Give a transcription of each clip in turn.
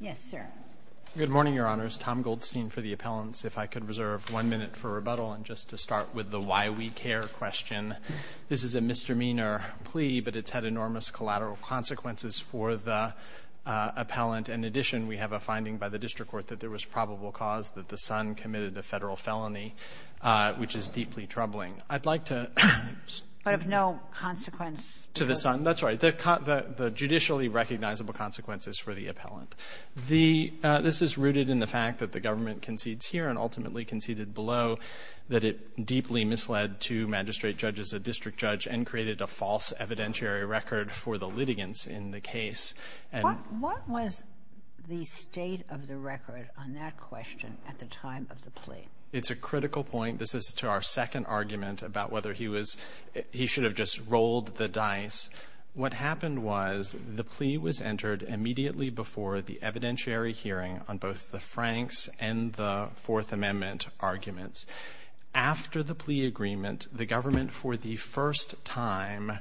Yes, sir. Good morning, Your Honors. Tom Goldstein for the Appellants. If I could reserve one minute for rebuttal and just to start with the why we care question. This is a misdemeanor plea, but it's had enormous collateral consequences for the appellant. In addition, we have a finding by the district court that there was probable cause that the son committed a federal felony, which is deeply troubling. I'd like to... But of no consequence... To the son. That's right. The judicially recognizable consequences for the appellant. This is rooted in the fact that the government concedes here and ultimately conceded below that it deeply misled two magistrate judges, a district judge, and created a false evidentiary record for the litigants in the case. And... What was the state of the record on that question at the time of the plea? It's a critical point. This is to our second argument about whether he was... He should have just rolled the dice. What happened was the plea was entered immediately before the evidentiary hearing on both the Franks and the Fourth Amendment arguments. After the plea agreement, the government for the first time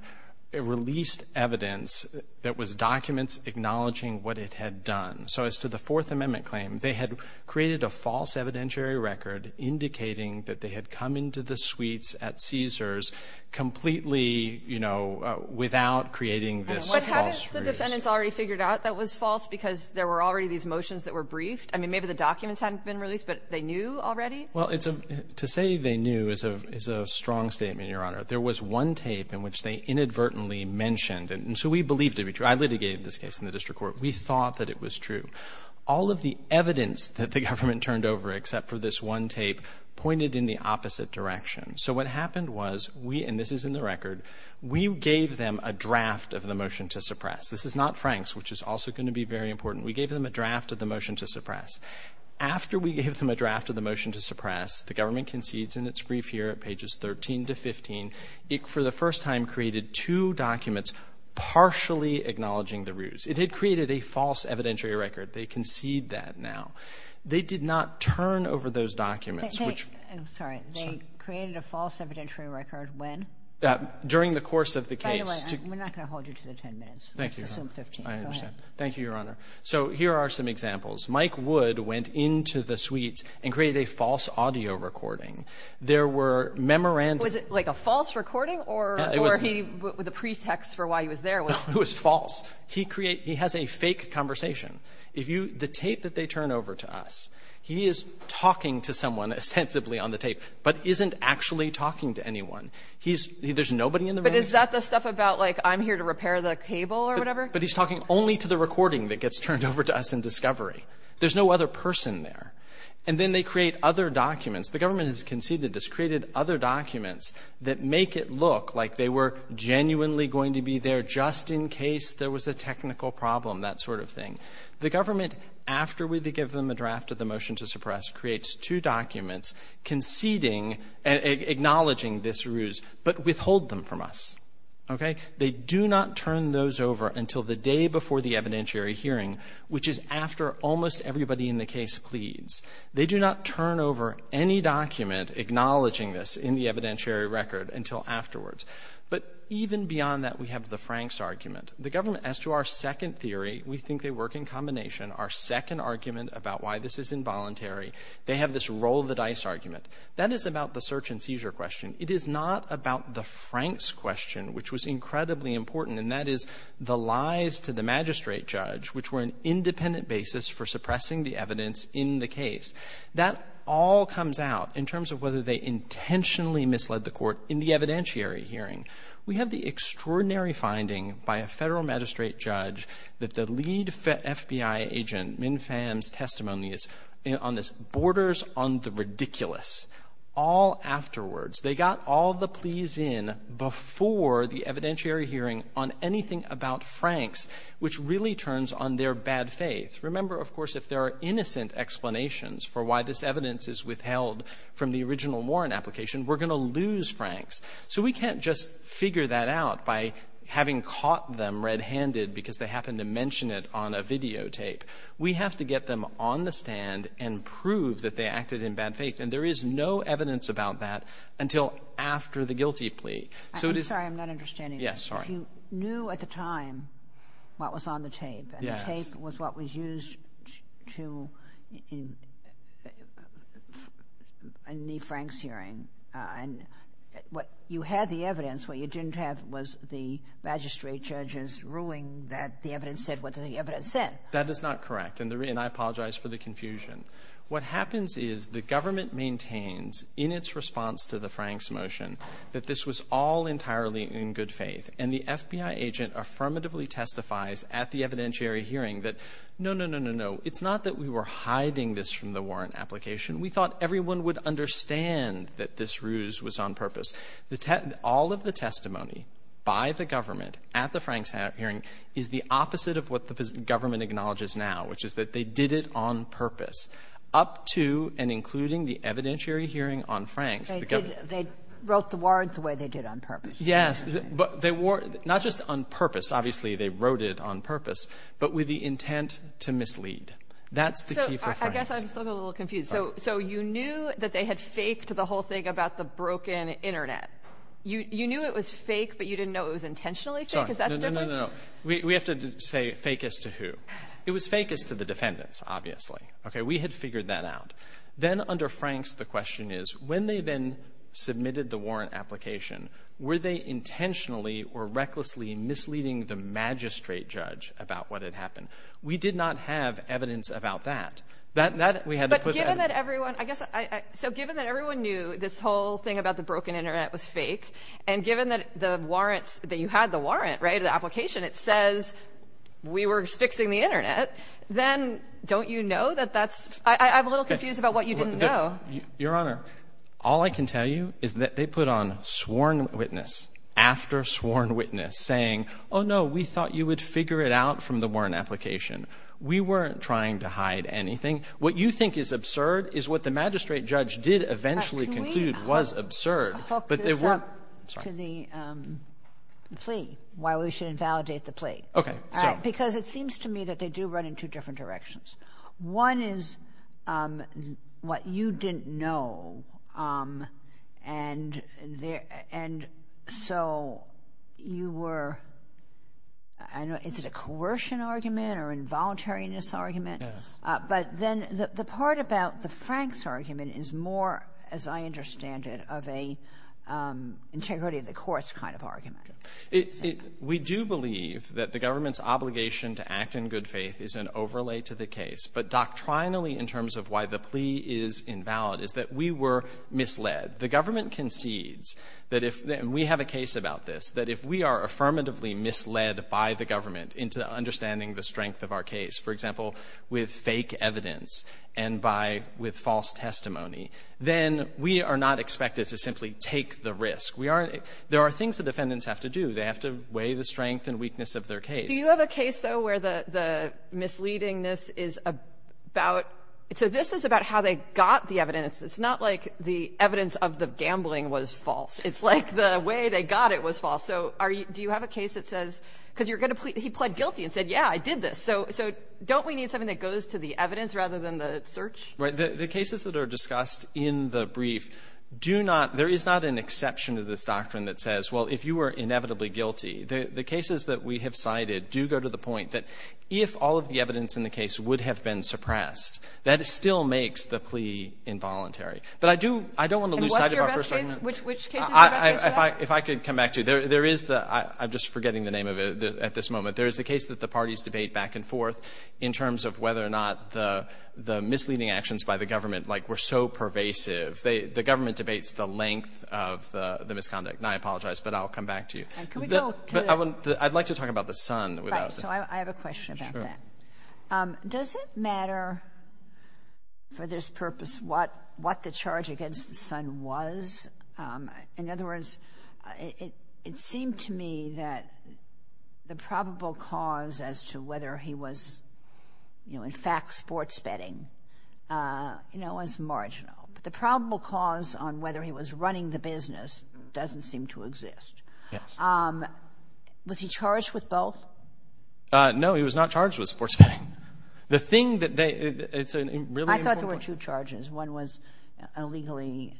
released evidence that was documents acknowledging what it had done. So as to the Fourth Amendment claim, they had created a false evidentiary record indicating that they had come into the suites at Caesar's completely, you know, without creating this false proof. But hadn't the defendants already figured out that was false because there were already these motions that were briefed? I mean, maybe the documents hadn't been released, but they knew already? Well, it's a... To say they knew is a strong statement, Your Honor. There was one tape in which they inadvertently mentioned... And so we believe to be true. I litigated this case in the district court. We thought that it was true. All of the evidence that the government turned over except for this one tape pointed in the opposite direction. So what happened was we... And this is in the record. We gave them a draft of the motion to suppress. This is not Franks, which is also going to be very important. We gave them a draft of the motion to suppress. After we gave them a draft of the motion to suppress, the government concedes in its brief here at pages 13 to 15. It, for the first time, created two documents partially acknowledging the ruse. It had created a false evidentiary record. They concede that now. They did not turn over those documents, which... I'm sorry. They created a false evidentiary record when? During the course of the case. By the way, we're not going to hold you to the 10 minutes. Thank you, Your Honor. Let's assume 15. Go ahead. I understand. Thank you, Your Honor. So here are some examples. Mike Wood went into the suites and created a false audio recording. There were memorandums... Was it like a false recording or... It was... Or he... The pretext for why he was there was... It was false. He create... He has a fake conversation. If you... The tape that they turn over to us, he is talking to someone ostensibly on the tape, but isn't actually talking to anyone. He's... There's nobody in the room. But is that the stuff about, like, I'm here to repair the cable or whatever? But he's talking only to the recording that gets turned over to us in discovery. There's no other person there. And then they create other documents. The government has conceded this created other documents that make it look like they were genuinely going to be there just in case there was a technical problem, that sort of thing. The government, after we give them a draft of the motion to suppress, creates two documents conceding... Acknowledging this ruse, but withhold them from us. Okay? They do not turn those over until the day before the evidentiary hearing, which is after almost everybody in the case pleads. They do not turn over any document acknowledging this in the evidentiary record until afterwards. But even beyond that, we have the Franks argument. The government, as to our second theory, we think they work in combination. Our second argument about why this is involuntary, they have this roll the dice argument. That is about the search and seizure question. It is not about the Franks question, which was incredibly important, and that is the lies to the magistrate judge, which were an independent basis for suppressing the evidence in the court in the evidentiary hearing. We have the extraordinary finding by a Federal Magistrate judge that the lead FBI agent, Min Pham's testimony is on this borders on the ridiculous. All afterwards, they got all the pleas in before the evidentiary hearing on anything about Franks, which really turns on their bad faith. Remember, of course, if there are innocent explanations for why this evidence is withheld from the original Warren application, we're going to lose Franks. So we can't just figure that out by having caught them red-handed because they happened to mention it on a videotape. We have to get them on the stand and prove that they acted in bad faith. And there is no evidence about that until after the guilty plea. So it is — I'm sorry. I'm not understanding. Yes. Sorry. If you knew at the time what was on the tape — Yes. — was what was used to — in the Franks hearing, and you had the evidence. What you didn't have was the magistrate judge's ruling that the evidence said what the evidence said. That is not correct. And I apologize for the confusion. What happens is the government maintains in its response to the Franks motion that this was all entirely in good faith. And the FBI agent affirmatively testifies at the evidentiary hearing that, no, no, no, no, no, it's not that we were hiding this from the Warren application. We thought everyone would understand that this ruse was on purpose. All of the testimony by the government at the Franks hearing is the opposite of what the government acknowledges now, which is that they did it on purpose, up to and including the evidentiary hearing on Franks. They wrote the warrant the way they did on purpose. Yes. But they weren't — not just on purpose. Obviously, they wrote it on purpose, but with the intent to mislead. That's the key for Franks. So I guess I'm still a little confused. So you knew that they had faked the whole thing about the broken Internet. You knew it was fake, but you didn't know it was intentionally fake? Is that the difference? No, no, no, no. We have to say fake as to who. It was fake as to the defendants, obviously. OK, we had figured that out. Then under Franks, the question is, when they then submitted the warrant application, were they intentionally or recklessly misleading the magistrate judge about what had happened? We did not have evidence about that. But given that everyone — I guess — so given that everyone knew this whole thing about the broken Internet was fake, and given that the warrants — that you had the warrant, right, the application, it says we were fixing the Internet, then don't you know that that's — I'm a little confused about what you didn't know. Well, Your Honor, all I can tell you is that they put on sworn witness, after sworn witness, saying, oh, no, we thought you would figure it out from the warrant application. We weren't trying to hide anything. What you think is absurd is what the magistrate judge did eventually conclude was absurd. But can we hook this up to the plea, why we should invalidate the plea? OK. Because it seems to me that they do run in two different directions. One is what you didn't know, and there — and so you were — I don't know, is it a coercion argument or involuntariness argument? Yes. But then the part about the Franks argument is more, as I understand it, of a integrity of the courts kind of argument. We do believe that the government's obligation to act in good faith is an overlay to the case, but doctrinally, in terms of why the plea is invalid, I don't think it's valid, is that we were misled. The government concedes that if — and we have a case about this — that if we are affirmatively misled by the government into understanding the strength of our case, for example, with fake evidence and by — with false testimony, then we are not expected to simply take the risk. We are — there are things the defendants have to do. They have to weigh the strength and weakness of their case. Do you have a case, though, where the misleadingness is about — so this is about how they got the evidence. It's not like the evidence of the gambling was false. It's like the way they got it was false. So are you — do you have a case that says — because you're going to — he pled guilty and said, yeah, I did this. So don't we need something that goes to the evidence rather than the search? Right. The cases that are discussed in the brief do not — there is not an exception to this doctrine that says, well, if you were inevitably guilty, the cases that we have cited do go to the point that if all of the evidence in the case would have been suppressed, that still makes the plea involuntary. But I do — I don't want to lose sight of our first argument. And what's your best case? Which case is your best case for that? If I could come back to — there is the — I'm just forgetting the name of it at this moment. There is a case that the parties debate back and forth in terms of whether or not the misleading actions by the government, like, were so pervasive. The government debates the length of the misconduct. And I apologize, but I'll come back to you. Can we go — I'd like to talk about the son without — Right. So I have a question about that. Sure. Does it matter for this purpose what the charge against the son was? In other words, it seemed to me that the probable cause as to whether he was, you know, in fact sports betting, you know, was marginal. But the probable cause on whether he was running the business doesn't seem to exist. Yes. Was he charged with both? No, he was not charged with sports betting. The thing that they — it's a really important point. I thought there were two charges. One was illegally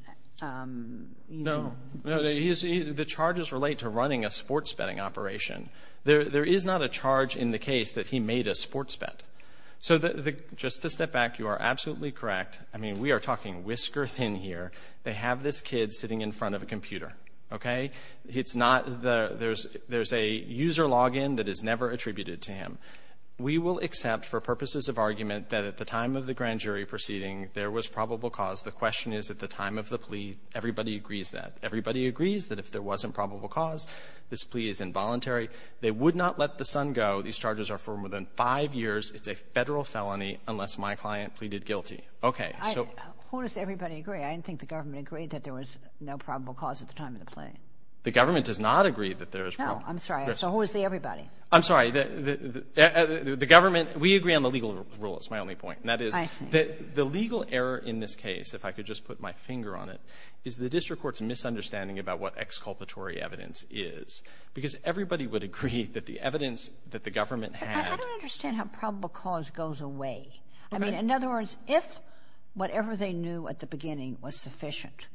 using — No. The charges relate to running a sports betting operation. There is not a charge in the case that he made a sports bet. So just to step back, you are absolutely correct. I mean, we are talking whisker thin here. They have this kid sitting in front of a computer, okay? It's not the — there's a user login that is never attributed to him. We will accept for purposes of argument that at the time of the grand jury proceeding there was probable cause. The question is at the time of the plea, everybody agrees that. Everybody agrees that if there wasn't probable cause, this plea is involuntary. They would not let the son go. These charges are for more than five years. It's a Federal felony unless my client pleaded guilty. Okay. Who does everybody agree? I didn't think the government agreed that there was no probable cause at the time of the plea. The government does not agree that there is — No. I'm sorry. So who is the everybody? I'm sorry. The government — we agree on the legal rule. It's my only point. And that is — I see. The legal error in this case, if I could just put my finger on it, is the district court's misunderstanding about what exculpatory evidence is because everybody would agree that the evidence that the government had — I don't understand how probable cause goes away. Okay. In other words, if whatever they knew at the beginning was sufficient,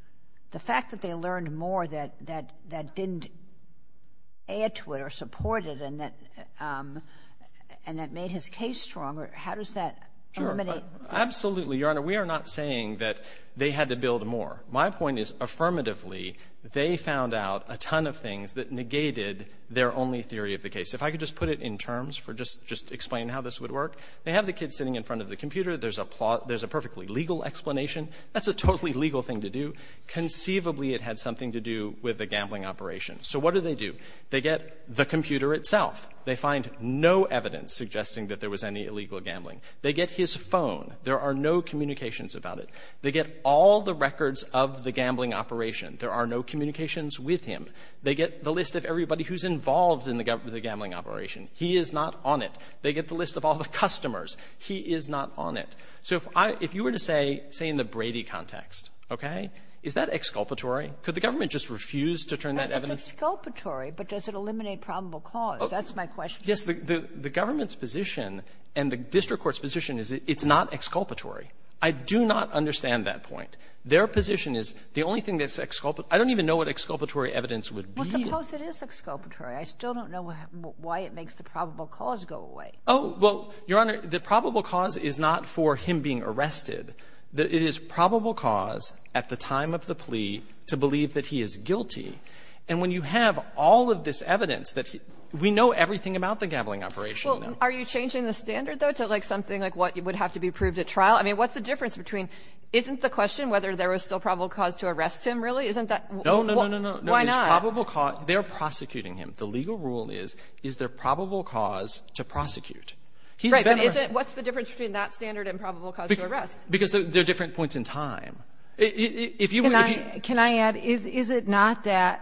the fact that they learned more that didn't add to it or support it and that — and that made his case stronger, how does that eliminate — Sure. Absolutely, Your Honor. We are not saying that they had to build more. My point is, affirmatively, they found out a ton of things that negated their only theory of the case. If I could just put it in terms for just — just to explain how this would work, they have the kid sitting in front of the computer. There's a — there's a perfectly legal explanation. That's a totally legal thing to do. Conceivably, it had something to do with the gambling operation. So what do they do? They get the computer itself. They find no evidence suggesting that there was any illegal gambling. They get his phone. There are no communications about it. They get all the records of the gambling operation. There are no communications with him. They get the list of everybody who's involved in the gambling operation. He is not on it. They get the list of all the customers. He is not on it. So if I — if you were to say, say, in the Brady context, okay, is that exculpatory? Could the government just refuse to turn that evidence? It's exculpatory, but does it eliminate probable cause? That's my question. Yes. The government's position and the district court's position is it's not exculpatory. I do not understand that point. Their position is the only thing that's — I don't even know what exculpatory evidence would be. Well, suppose it is exculpatory. I still don't know why it makes the probable cause go away. Oh, well, Your Honor, the probable cause is not for him being arrested. It is probable cause at the time of the plea to believe that he is guilty. And when you have all of this evidence that — we know everything about the gambling operation now. Well, are you changing the standard, though, to, like, something like what would have to be proved at trial? I mean, what's the difference between — isn't the question whether there was still probable cause to arrest him really? Isn't that — No, no, no, no, no. Why not? It's probable cause. They're prosecuting him. The legal rule is, is there probable cause to prosecute? He's been arrested. Right. But isn't — what's the difference between that standard and probable cause to arrest? Because they're different points in time. If you — Can I add, is it not that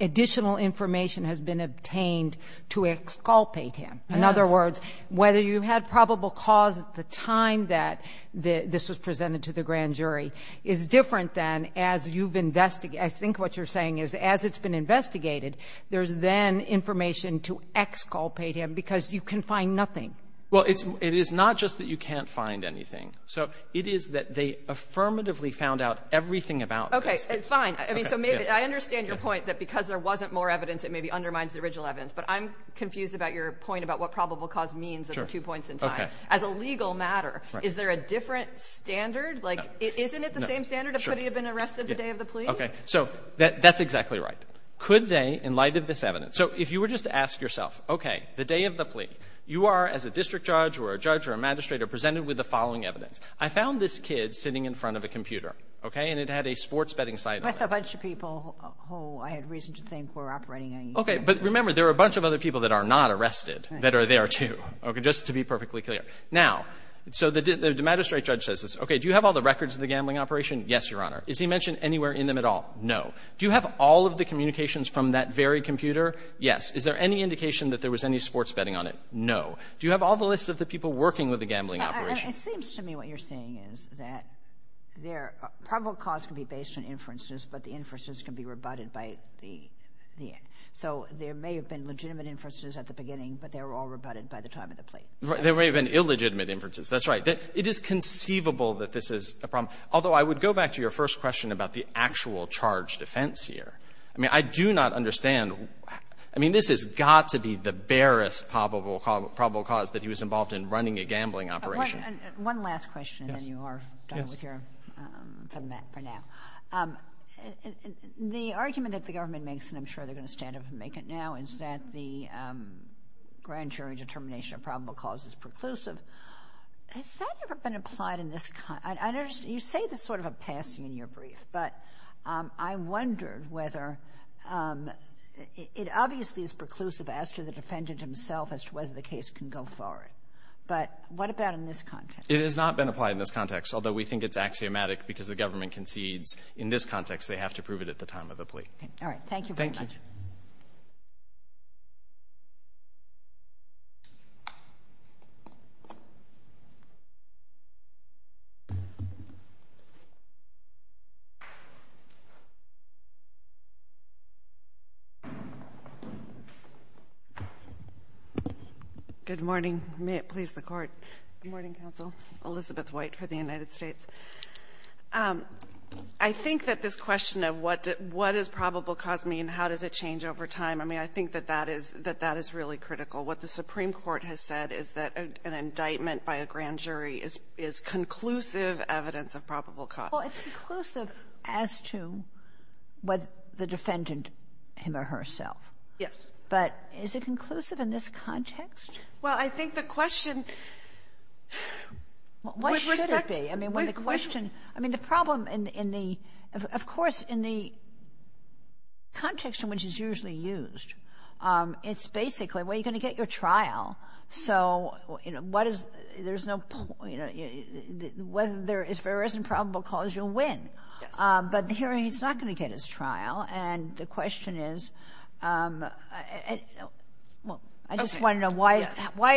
additional information has been obtained to exculpate him? Yes. In other words, whether you had probable cause at the time that this was presented to the grand jury is different than as you've investigated — I think what you're saying is as it's been investigated, there's then information to exculpate him because you can find nothing. Well, it's — it is not just that you can't find anything. So it is that they affirmatively found out everything about this. Okay. Fine. I mean, so maybe — I understand your point that because there wasn't more evidence, it maybe undermines the original evidence. But I'm confused about your point about what probable cause means at the two points in time. As a legal matter, is there a different standard? Like, isn't it the same standard of could he have been arrested the day of the plea? Okay. So that's exactly right. Could they, in light of this evidence — so if you were just to ask yourself, okay, the day of the plea, you are, as a district judge or a judge or a magistrate, are presented with the following evidence. I found this kid sitting in front of a computer, okay, and it had a sports betting sign on it. Plus a bunch of people who I had reason to think were operating on you. But remember, there are a bunch of other people that are not arrested that are there too. Okay. Just to be perfectly clear. Now, so the magistrate judge says this. Okay. Do you have all the records of the gambling operation? Yes, Your Honor. Is he mentioned anywhere in them at all? No. Do you have all of the communications from that very computer? Yes. Is there any indication that there was any sports betting on it? No. Do you have all the lists of the people working with the gambling operation? It seems to me what you're saying is that there — probable cause can be based on inferences, but the inferences can be rebutted by the — so there may have been illegitimate inferences. That's right. It is conceivable that this is a problem. Although, I would go back to your first question about the actual charge defense here. I mean, I do not understand — I mean, this has got to be the barest probable cause that he was involved in running a gambling operation. One last question, and then you are done with your — from that for now. The argument that the government makes, and I'm sure they're going to stand up and make it now, is that the grand jury determination of probable cause is preclusive. Has that ever been applied in this — you say there's sort of a passing in your brief, but I wondered whether — it obviously is preclusive as to the defendant himself as to whether the case can go forward. But what about in this context? It has not been applied in this context, although we think it's axiomatic because the government concedes in this context they have to prove it at the time of the plea. All right. Thank you very much. Thank you. Good morning. May it please the Court. Good morning, Counsel. Elizabeth White for the United States. I think that this question of what does probable cause mean, how does it change over time, I mean, I think that that is — that that is really critical. What the Supreme Court has said is that an indictment by a grand jury is conclusive evidence of probable cause. Well, it's conclusive as to whether the defendant, him or herself. Yes. But is it conclusive in this context? Well, I think the question would respect — What should it be? I mean, when the question — I mean, the problem in the — of course, in the context in which it's usually used, it's basically, well, you're going to get your trial, so, you know, what is — there's no — whether there is or isn't probable cause, you'll win. But here he's not going to get his trial, and the question is — well, I just want to know why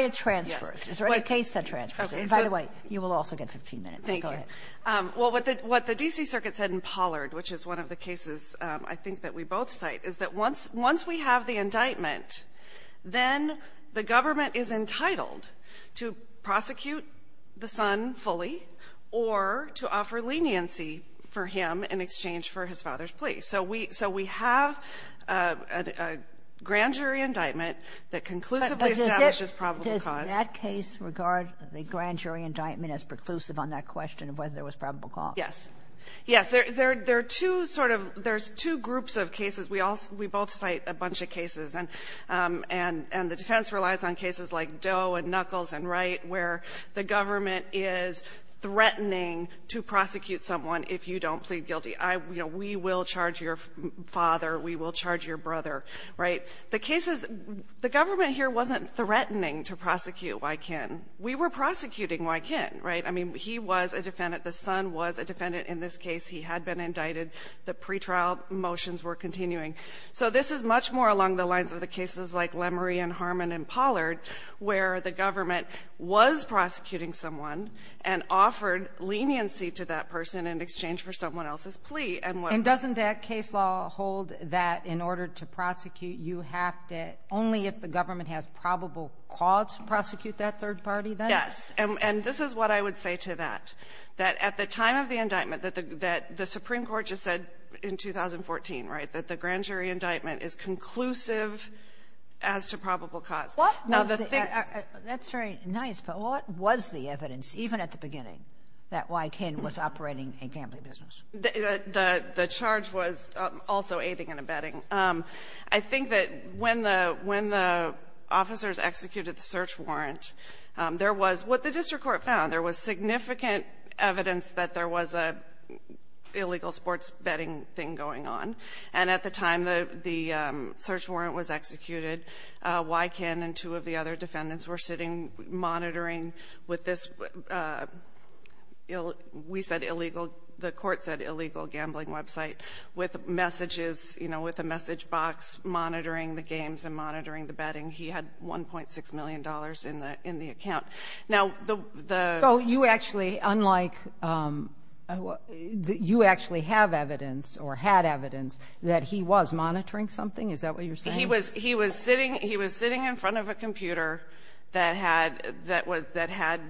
it transfers. Is there any case that transfers? By the way, you will also get 15 minutes, so go ahead. Thank you. Well, what the D.C. Circuit said in Pollard, which is one of the cases I think that we both cite, is that once we have the indictment, then the government is entitled to prosecute the son fully or to offer leniency for him in exchange for his father's plea. So we — so we have a grand jury indictment that conclusively establishes probable cause. Does that case regard the grand jury indictment as preclusive on that question of whether there was probable cause? Yes. Yes. There are two sort of — there's two groups of cases. We also — we both cite a bunch of cases, and the defense relies on cases like Doe and Knuckles and Wright, where the government is threatening to prosecute someone if you don't plead guilty. You know, we will charge your father, we will charge your brother, right? The case is — the government here wasn't threatening to prosecute Wykin. We were prosecuting Wykin, right? I mean, he was a defendant. The son was a defendant in this case. He had been indicted. The pretrial motions were continuing. So this is much more along the lines of the cases like Lemory and Harmon and Pollard, where the government was prosecuting someone and offered leniency to that person in exchange for someone else's plea. And doesn't that case law hold that in order to prosecute, you have to — only if the government has probable cause to prosecute that third party, then? Yes. And this is what I would say to that, that at the time of the indictment, that the Supreme Court just said in 2014, right, that the grand jury indictment is conclusive as to probable cause. What was the — that's very nice, but what was the evidence, even at the beginning, that Wykin was operating a gambling business? The charge was also aiding and abetting. I think that when the — when the officers executed the search warrant, there was — what the district court found, there was significant evidence that there was an illegal sports betting thing going on. And at the time the search warrant was executed, Wykin and two of the other defendants were sitting monitoring with this — we said illegal — the court said illegal gambling website with messages, you know, with a message box monitoring the games and monitoring the betting. He had $1.6 million in the account. Now, the — So you actually, unlike — you actually have evidence or had evidence that he was monitoring something? Is that what you're saying? He was sitting in front of a computer that had — that had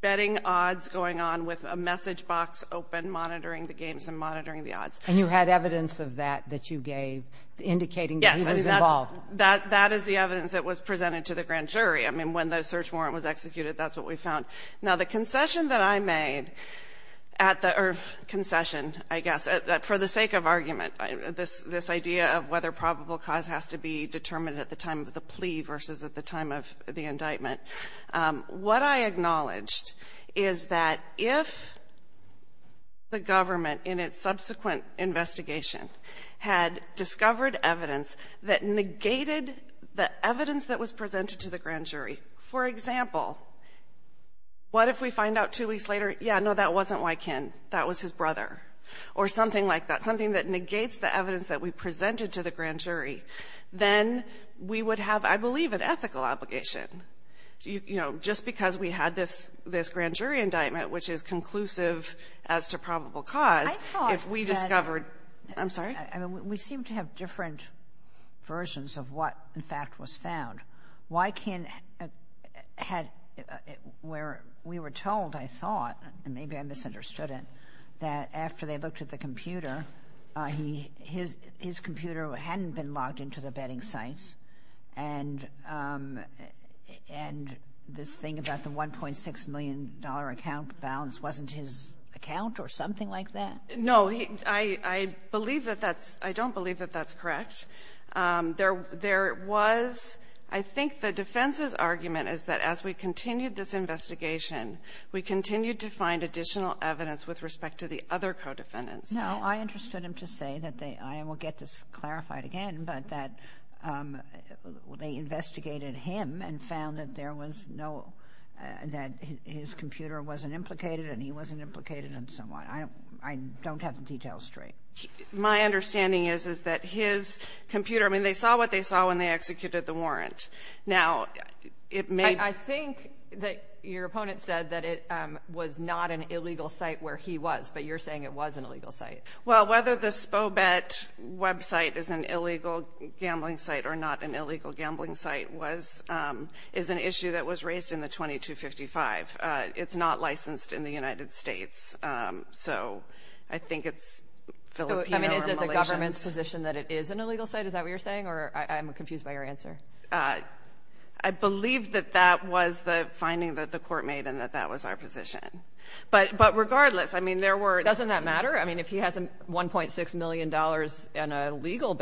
betting odds going on with a message box open monitoring the games and monitoring the odds. And you had evidence of that that you gave indicating that he was involved? Yes. That is the evidence that was presented to the grand jury. I mean, when the search warrant was executed, that's what we found. Now, the concession that I made at the — or concession, I guess, for the sake of argument, this idea of whether probable cause has to be determined at the time of the plea versus at the time of the indictment, what I acknowledged is that if the government in its subsequent investigation had discovered evidence that negated the evidence that was presented to the grand jury — for example, what if we find out two weeks later, yeah, no, that wasn't Wykin, that was his brother, or something like that, something that negates the evidence that we presented to the grand jury, then we would have, I believe, an ethical obligation. You know, just because we had this grand jury indictment, which is conclusive as to probable cause, if we discovered — I thought that — I'm sorry? I mean, we seem to have different versions of what, in fact, was found. Wykin had — where we were told, I thought, and maybe I misunderstood it, that after they looked at the computer, his computer hadn't been logged into the bedding sites, and this thing about the $1.6 million account balance wasn't his account or something like that? No. I believe that that's — I don't believe that that's correct. There was — I think the defense's argument is that as we continued this investigation, we continued to find additional evidence with respect to the other co-defendants. No. I interested him to say that they — I will get this clarified again, but that they investigated him and found that there was no — that his computer wasn't implicated and he wasn't implicated and so on. I don't have the details straight. My understanding is, is that his computer — I mean, they saw what they saw when they executed the warrant. Now, it may — I think that your opponent said that it was not an illegal site where he was, but you're saying it was an illegal site. Well, whether the Spobet website is an illegal gambling site or not an illegal gambling site was — is an issue that was raised in the 2255. It's not licensed in the United States, so I think it's Filipino or Malaysian. I mean, is it the government's position that it is an illegal site? Is that what you're saying? Or I'm confused by your answer. I believe that that was the finding that the court made and that that was our position. But regardless, I mean, there were — Doesn't that matter? I mean, if he has $1.6 million in illegal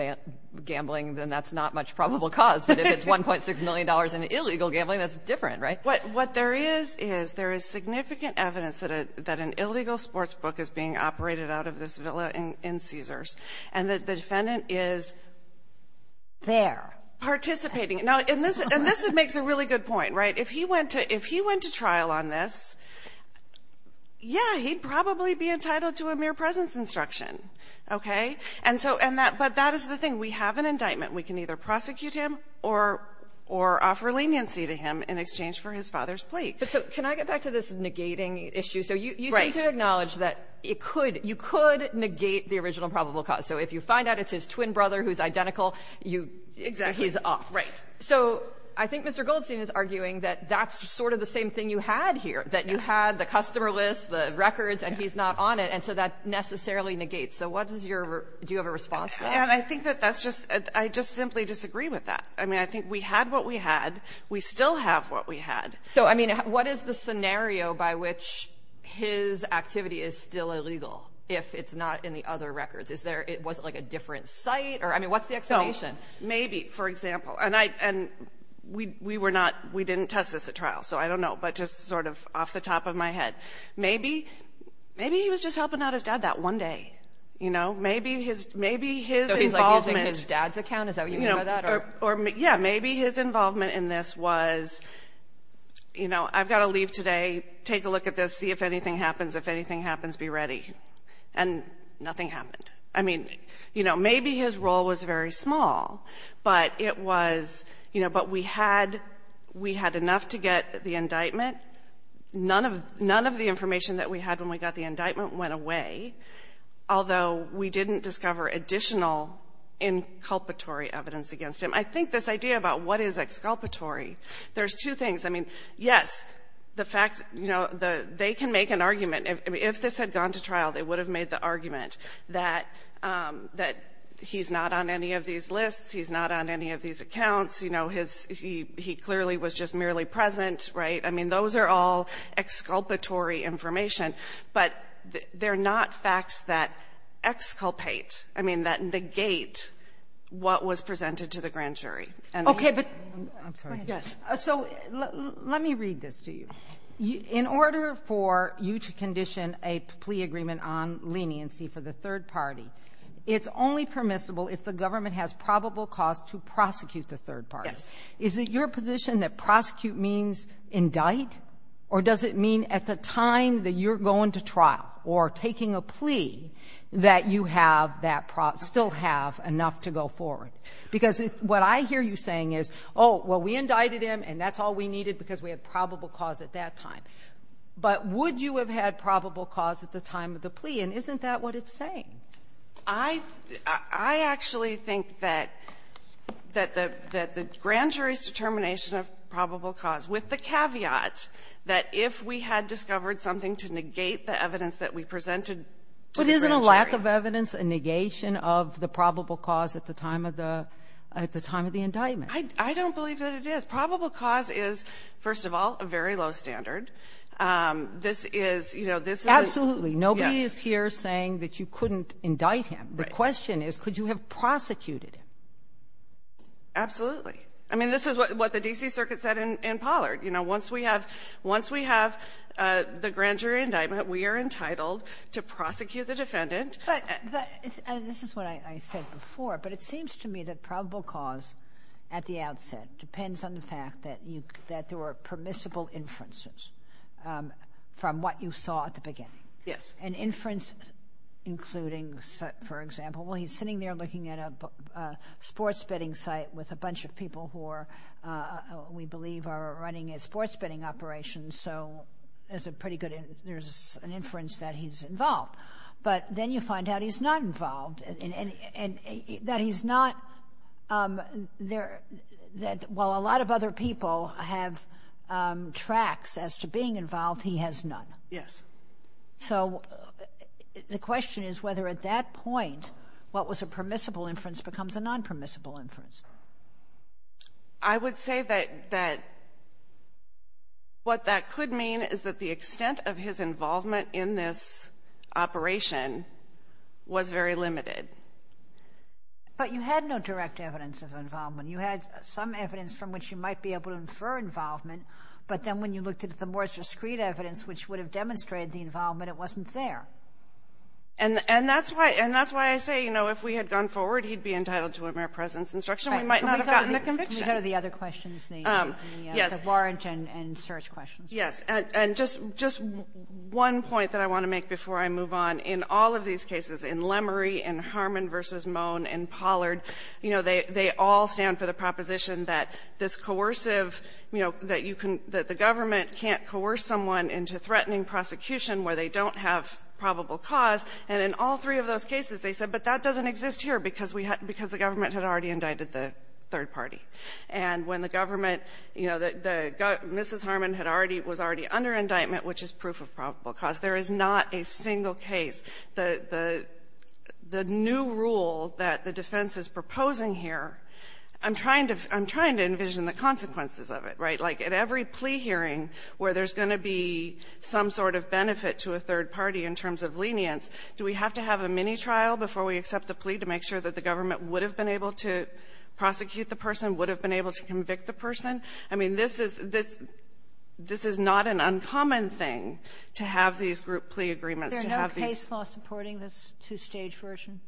gambling, then that's not much probable cause. But if it's $1.6 million in illegal gambling, that's different, right? What there is, is there is significant evidence that an illegal sportsbook is being operated out of this villa in Caesars. And that the defendant is there. Participating. Now, in this — and this makes a really good point, right? If he went to — if he went to trial on this, yeah, he'd probably be entitled to a mere presence instruction. Okay? And so — and that — but that is the thing. We have an indictment. We can either prosecute him or — or offer leniency to him in exchange for his father's But so can I get back to this negating issue? Right. I would like to acknowledge that it could — you could negate the original probable cause. So if you find out it's his twin brother who's identical, you — Exactly. He's off. Right. So I think Mr. Goldstein is arguing that that's sort of the same thing you had here, that you had the customer list, the records, and he's not on it, and so that necessarily negates. So what is your — do you have a response to that? And I think that that's just — I just simply disagree with that. I mean, I think we had what we had. We still have what we had. So, I mean, what is the scenario by which his activity is still illegal if it's not in the other records? Is there — was it, like, a different site? Or, I mean, what's the explanation? So, maybe, for example — and I — and we were not — we didn't test this at trial, so I don't know, but just sort of off the top of my head. Maybe — maybe he was just helping out his dad that one day, you know? Maybe his — maybe his involvement — So he's, like, using his dad's account? Is that what you mean by that? Yeah, maybe his involvement in this was, you know, I've got to leave today, take a look at this, see if anything happens. If anything happens, be ready. And nothing happened. I mean, you know, maybe his role was very small, but it was — you know, but we had — we had enough to get the indictment. None of — none of the information that we had when we got the indictment went away, although we didn't discover additional inculpatory evidence against him. I think this idea about what is exculpatory, there's two things. I mean, yes, the fact — you know, they can make an argument. If this had gone to trial, they would have made the argument that he's not on any of these lists, he's not on any of these accounts, you know, his — he clearly was just merely present, right? I mean, those are all exculpatory information. But they're not facts that exculpate — I mean, that negate what was presented to the grand jury. Okay, but — I'm sorry. Yes. So let me read this to you. In order for you to condition a plea agreement on leniency for the third party, it's only permissible if the government has probable cause to prosecute the third party. Yes. Is it your position that prosecute means indict, or does it mean at the time that you're going to trial or taking a plea that you have that — still have enough to go forward? Because what I hear you saying is, oh, well, we indicted him, and that's all we needed because we had probable cause at that time. But would you have had probable cause at the time of the plea? And isn't that what it's saying? I — I actually think that — that the grand jury's determination of probable cause, with the caveat that if we had discovered something to negate the evidence that we presented to the grand jury — But isn't a lack of evidence a negation of the probable cause at the time of the — at the time of the indictment? I don't believe that it is. Probable cause is, first of all, a very low standard. This is — you know, this is — Absolutely. But you're not just here saying that you couldn't indict him. Right. The question is, could you have prosecuted him? Absolutely. I mean, this is what the D.C. Circuit said in Pollard. You know, once we have — once we have the grand jury indictment, we are entitled to prosecute the defendant. But — and this is what I said before, but it seems to me that probable cause at the outset depends on the fact that you — that there were permissible inferences from what you saw at the beginning. Yes. An inference including, for example — well, he's sitting there looking at a sports betting site with a bunch of people who are — we believe are running a sports betting operation, so there's a pretty good — there's an inference that he's involved. But then you find out he's not involved, and that he's not — that while a lot of other people have tracks as to being involved, he has none. Yes. So the question is whether at that point what was a permissible inference becomes a non-permissible inference. I would say that — that what that could mean is that the extent of his involvement in this operation was very limited. But you had no direct evidence of involvement. You had some evidence from which you might be able to infer involvement, but then when you looked at the more discreet evidence, which would have demonstrated the involvement, it wasn't there. And that's why — and that's why I say, you know, if we had gone forward, he'd be entitled to a mere presence instruction. We might not have gotten the conviction. Right. Can we go to the other questions? Yes. The Warren and Search questions. Yes. And just one point that I want to make before I move on, in all of these cases, in Lemery, in Harmon v. Mohn, in Pollard, you know, they all stand for the proposition that this coercive, you know, that you can — that the government can't coerce someone into threatening prosecution where they don't have probable cause. And in all three of those cases, they said, but that doesn't exist here because we had — because the government had already indicted the third party. And when the government, you know, the — Mrs. Harmon had already — was already under indictment, which is proof of probable cause. There is not a single case. The new rule that the defense is proposing here, I'm trying to — I'm trying to envision the consequences of it, right? Like, at every plea hearing where there's going to be some sort of benefit to a third party in terms of lenience, do we have to have a mini-trial before we accept the plea to make sure that the government would have been able to prosecute the person, would have been able to convict the person? I mean, this is — this is not an uncommon thing to have these group plea agreements, to have these — Are there no case laws supporting this two-stage version?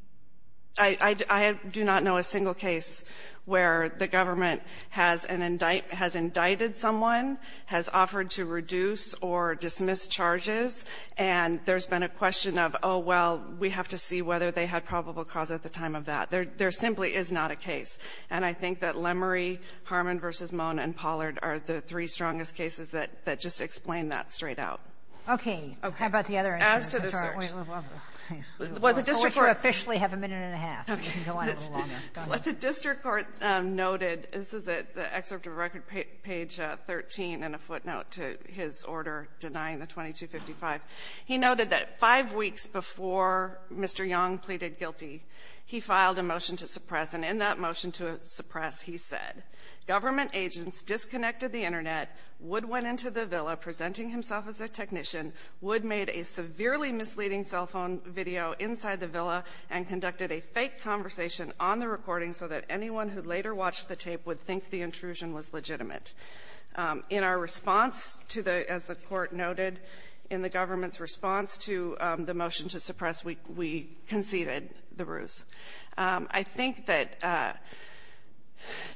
I do not know a single case where the government has an — has indicted someone, has offered to reduce or dismiss charges, and there's been a question of, oh, well, we have to see whether they had probable cause at the time of that. There simply is not a case. And I think that Lemery, Harmon v. Mohn, and Pollard are the three strongest cases that just explain that straight out. Okay. How about the other — As to the search. Wait, wait, wait. What the district court — I told you to officially have a minute and a half. Okay. You can go on a little longer. Go ahead. What the district court noted, this is at the excerpt of Record Page 13 and a footnote to his order denying the 2255. He noted that five weeks before Mr. Young pleaded guilty, he filed a motion to suppress. And in that motion to suppress, he said, government agents disconnected the Internet, Wood went into the villa presenting himself as a technician. Wood made a severely misleading cell phone video inside the villa and conducted a fake conversation on the recording so that anyone who later watched the tape would think the intrusion was legitimate. In our response to the — as the Court noted, in the government's response to the motion to suppress, we conceded the ruse. I think that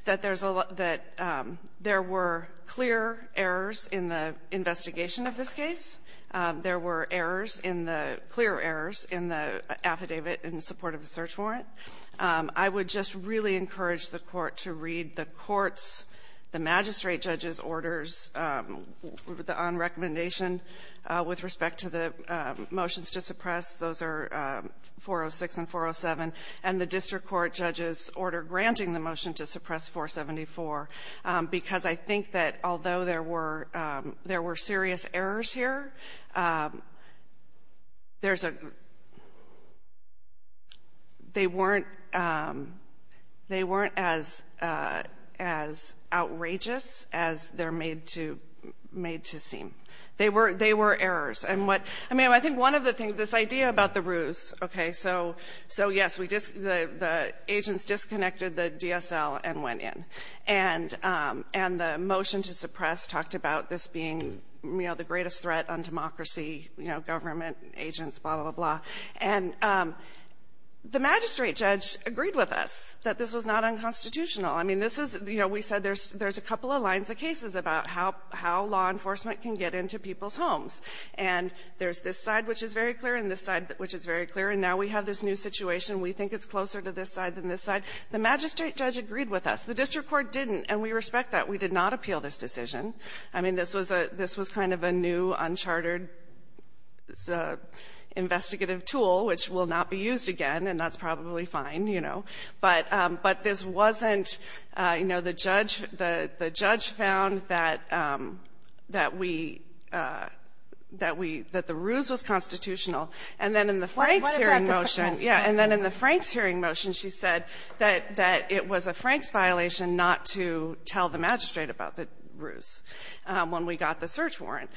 there's a lot — that there were clear errors in the investigation of this case. There were errors in the — clear errors in the affidavit in support of the search warrant. I would just really encourage the Court to read the Court's, the magistrate judge's orders on recommendation with respect to the motions to suppress. Those are 406 and 407. And the district court judge's order granting the motion to suppress 474. Because I think that although there were — there were serious errors here, there's a — they weren't — they weren't as — as outrageous as they're made to — made to seem. They were — they were errors. And what — I mean, I think one of the things — this idea about the ruse, okay? So, yes, we just — the agents disconnected the DSL and went in. And the motion to suppress talked about this being, you know, the greatest threat on democracy, you know, government agents, blah, blah, blah, blah. And the magistrate judge agreed with us that this was not unconstitutional. I mean, this is — you know, we said there's a couple of lines of cases about how law enforcement can get into people's homes. And there's this side, which is very clear, and this side, which is very clear. And now we have this new situation. We think it's closer to this side than this side. The magistrate judge agreed with us. The district court didn't. And we respect that. We did not appeal this decision. I mean, this was a — this was kind of a new, uncharted investigative tool, which will not be used again, and that's probably fine, you know. But — but this wasn't — you know, the judge — the judge found that — that we — that we — that the ruse was constitutional. And then in the Franks' hearing motion — What about the Franks' motion? Yeah. And then in the Franks' hearing motion, she said that — that it was a Franks' violation not to tell the magistrate about the ruse when we got the search warrant.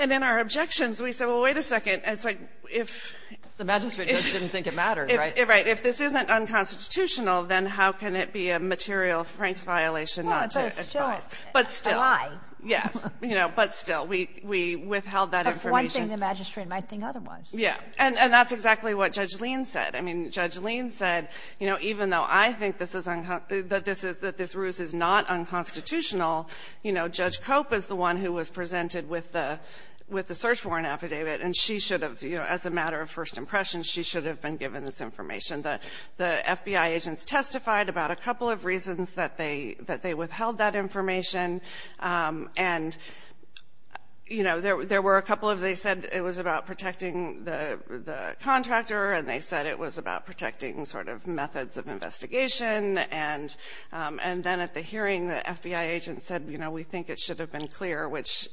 And in our objections, we said, well, wait a second. It's like, if — The magistrate judge didn't think it mattered, right? Right. So if this isn't unconstitutional, then how can it be a material Franks' violation not to advise? Well, but still — But still. A lie. Yes. You know, but still. We — we withheld that information. But for one thing, the magistrate might think otherwise. Yeah. And that's exactly what Judge Leen said. I mean, Judge Leen said, you know, even though I think this is — that this is — that this ruse is not unconstitutional, you know, Judge Cope is the one who was presented with the — with the search warrant affidavit, and she should have, you know, as a matter of first impression, she should have been given this information. The FBI agents testified about a couple of reasons that they — that they withheld that information. And, you know, there were a couple of — they said it was about protecting the contractor, and they said it was about protecting sort of methods of investigation. And then at the hearing, the FBI agents said, you know, we think it should have been clear, which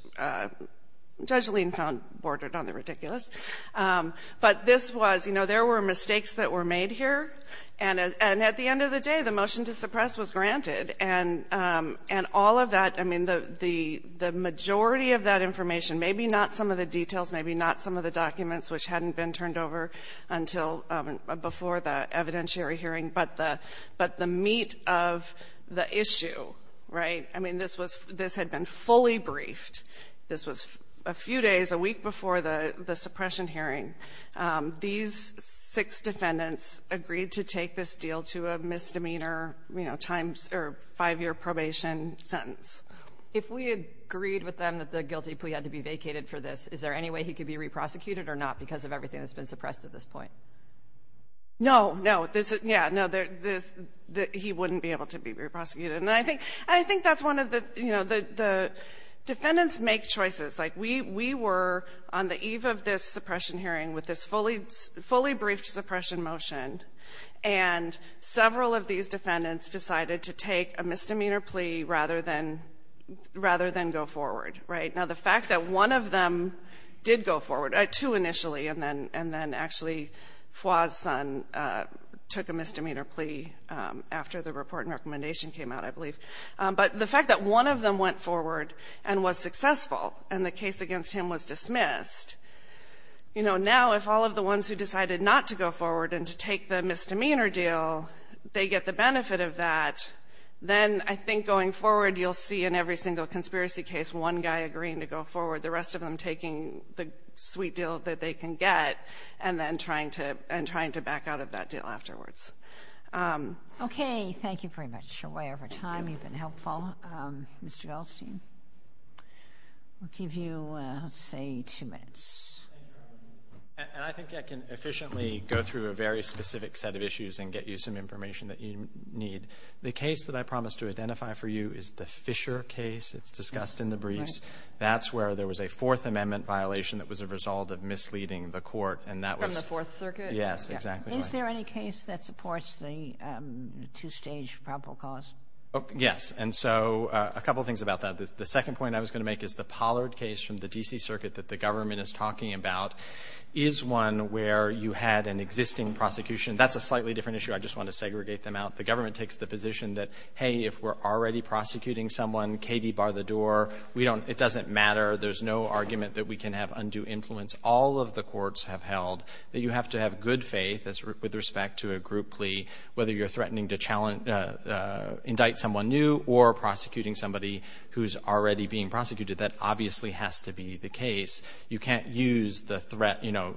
Judge Leen found bordered on the ridiculous. But this was — you know, there were mistakes that were made here. And at the end of the day, the motion to suppress was granted. And all of that — I mean, the majority of that information, maybe not some of the details, maybe not some of the documents which hadn't been turned over until before the evidentiary hearing, but the — but the meat of the issue, right? I mean, this was — this had been fully briefed. This was a few days, a week before the suppression hearing. These six defendants agreed to take this deal to a misdemeanor, you know, times — or five-year probation sentence. If we agreed with them that the guilty plea had to be vacated for this, is there any way he could be re-prosecuted or not because of everything that's been suppressed at this point? No, no. This is — yeah, no. This — he wouldn't be able to be re-prosecuted. And I think that's one of the — you know, the defendants make choices. Like, we were on the eve of this suppression hearing with this fully briefed suppression motion, and several of these defendants decided to take a misdemeanor plea rather than go forward, right? Now, the fact that one of them did go forward — two initially, and then actually took a misdemeanor plea after the report and recommendation came out, I believe. But the fact that one of them went forward and was successful, and the case against him was dismissed, you know, now if all of the ones who decided not to go forward and to take the misdemeanor deal, they get the benefit of that, then I think going forward, you'll see in every single conspiracy case, one guy agreeing to go forward, the rest of them taking the sweet deal that they can get, and then trying to — and trying to back out of that deal afterwards. Okay. Thank you very much. You're way over time. You've been helpful. Mr. Goldstein, we'll give you, let's say, two minutes. And I think I can efficiently go through a very specific set of issues and get you some information that you need. The case that I promised to identify for you is the Fisher case. It's discussed in the briefs. That's where there was a Fourth Amendment violation that was a result of misleading the court. And that was — From the Fourth Circuit? Yes, exactly. Is there any case that supports the two-stage probable cause? Yes. And so a couple things about that. The second point I was going to make is the Pollard case from the D.C. Circuit that the government is talking about is one where you had an existing prosecution. That's a slightly different issue. I just want to segregate them out. The government takes the position that, hey, if we're already prosecuting someone, Katie, bar the door. We don't — it doesn't matter. There's no argument that we can have undue influence. All of the courts have held that you have to have good faith with respect to a group plea, whether you're threatening to indict someone new or prosecuting somebody who's already being prosecuted. That obviously has to be the case. You can't use the threat, you know,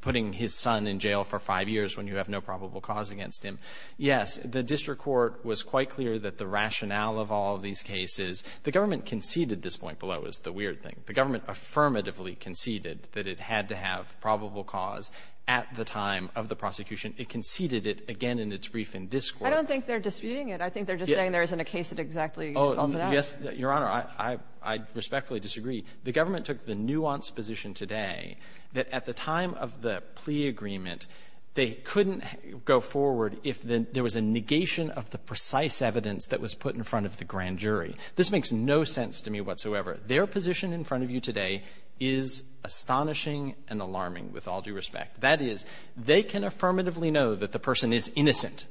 putting his son in jail for five years when you have no probable cause against him. Yes, the district court was quite clear that the rationale of all of these cases — the government conceded this point below is the weird thing. The government affirmatively conceded that it had to have probable cause at the time of the prosecution. It conceded it again in its brief in this Court. I don't think they're disputing it. I think they're just saying there isn't a case that exactly spells it out. Oh, yes, Your Honor. I respectfully disagree. The government took the nuanced position today that at the time of the plea agreement, they couldn't go forward if there was a negation of the precise evidence that was put in front of the grand jury. This makes no sense to me whatsoever. Their position in front of you today is astonishing and alarming, with all due respect. That is, they can affirmatively know that the person is innocent.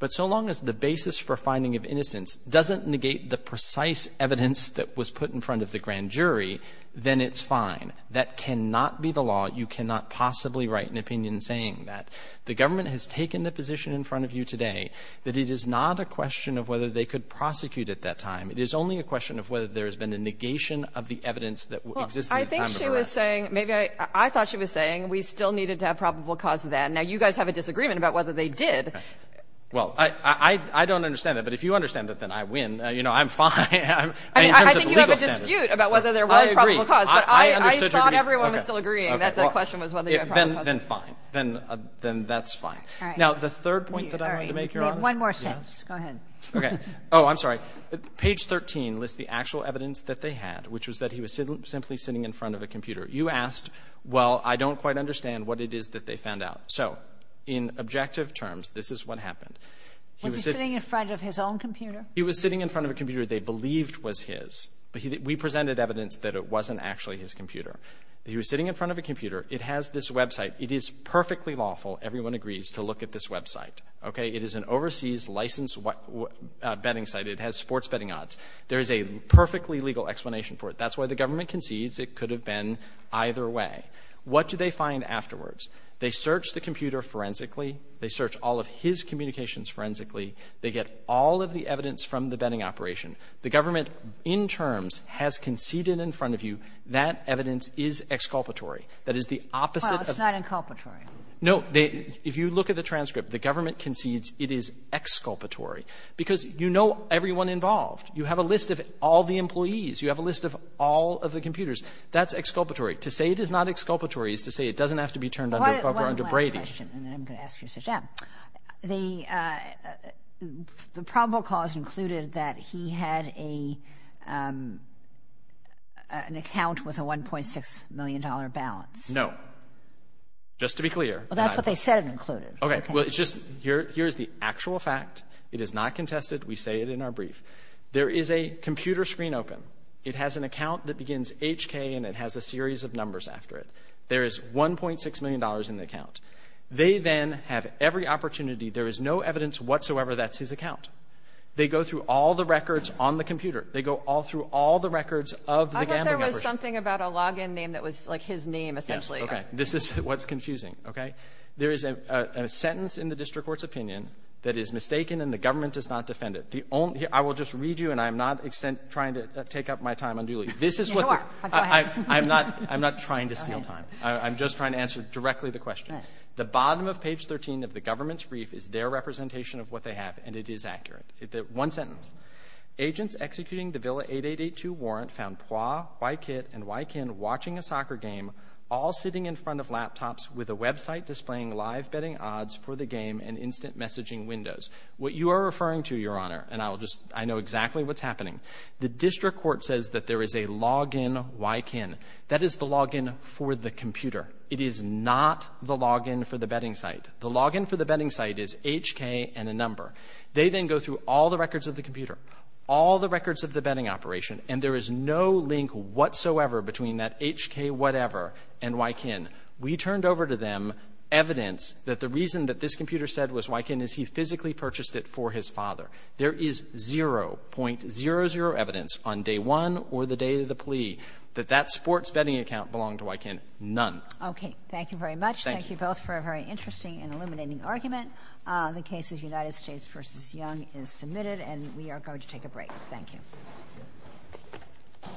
But so long as the basis for finding of innocence doesn't negate the precise evidence that was put in front of the grand jury, then it's fine. That cannot be the law. You cannot possibly write an opinion saying that. The government has taken the position in front of you today that it is not a question of whether they could prosecute at that time. It is only a question of whether there has been a negation of the evidence that existed at the time of the arrest. Well, I think she was saying, maybe I thought she was saying we still needed to have probable cause then. Now, you guys have a disagreement about whether they did. Well, I don't understand that. But if you understand that, then I win. You know, I'm fine. I mean, in terms of the legal standard. I think you have a dispute about whether there was probable cause. But I thought everyone was still agreeing that the question was whether there was probable cause. Then fine. Then that's fine. All right. Now, the third point that I wanted to make, Your Honor. One more sentence. Go ahead. Okay. Oh, I'm sorry. Page 13 lists the actual evidence that they had, which was that he was simply sitting in front of a computer. You asked, well, I don't quite understand what it is that they found out. So in objective terms, this is what happened. Was he sitting in front of his own computer? He was sitting in front of a computer they believed was his. But we presented evidence that it wasn't actually his computer. He was sitting in front of a computer. It has this website. It is perfectly lawful, everyone agrees, to look at this website. Okay. It is an overseas licensed betting site. It has sports betting odds. There is a perfectly legal explanation for it. That's why the government concedes it could have been either way. What do they find afterwards? They search the computer forensically. They search all of his communications forensically. They get all of the evidence from the betting operation. The government, in terms, has conceded in front of you that evidence is exculpatory. That is the opposite of the other. Well, it's not inculpatory. No. If you look at the transcript, the government concedes it is exculpatory because you know everyone involved. You have a list of all the employees. You have a list of all of the computers. That's exculpatory. To say it is not exculpatory is to say it doesn't have to be turned over under Brady. One last question, and then I'm going to ask you, Mr. Chapman. The probable cause included that he had an account with a $1.6 million balance. No. Just to be clear. Well, that's what they said it included. Okay. Well, it's just here's the actual fact. It is not contested. We say it in our brief. There is a computer screen open. It has an account that begins HK, and it has a series of numbers after it. There is $1.6 million in the account. They then have every opportunity. There is no evidence whatsoever that's his account. They go through all the records on the computer. They go all through all the records of the gambling operation. I thought there was something about a login name that was like his name, essentially. Yes. Okay. This is what's confusing. Okay. There is a sentence in the district court's opinion that is mistaken and the government does not defend it. The only — I will just read you, and I am not trying to take up my time unduly. This is what the — Go ahead. I'm not trying to steal time. Go ahead. I'm just trying to answer directly the question. Okay. The bottom of page 13 of the government's brief is their representation of what they have, and it is accurate. One sentence. Agents executing the Villa 8882 warrant found Poie, Wykit, and Wykin watching a soccer game, all sitting in front of laptops with a website displaying live betting odds for the game and instant messaging windows. What you are referring to, Your Honor, and I will just — I know exactly what's happening. The district court says that there is a login Wykin. That is the login for the computer. It is not the login for the betting site. The login for the betting site is HK and a number. They then go through all the records of the computer, all the records of the betting operation, and there is no link whatsoever between that HK whatever and Wykin. We turned over to them evidence that the reason that this computer said was Wykin is he physically purchased it for his father. There is 0.00 evidence on day one or the day of the plea that that sports betting account belonged to Wykin. None. Okay. Thank you very much. Thank you both for a very interesting and illuminating argument. The case of United States v. Young is submitted, and we are going to take a break. Thank you.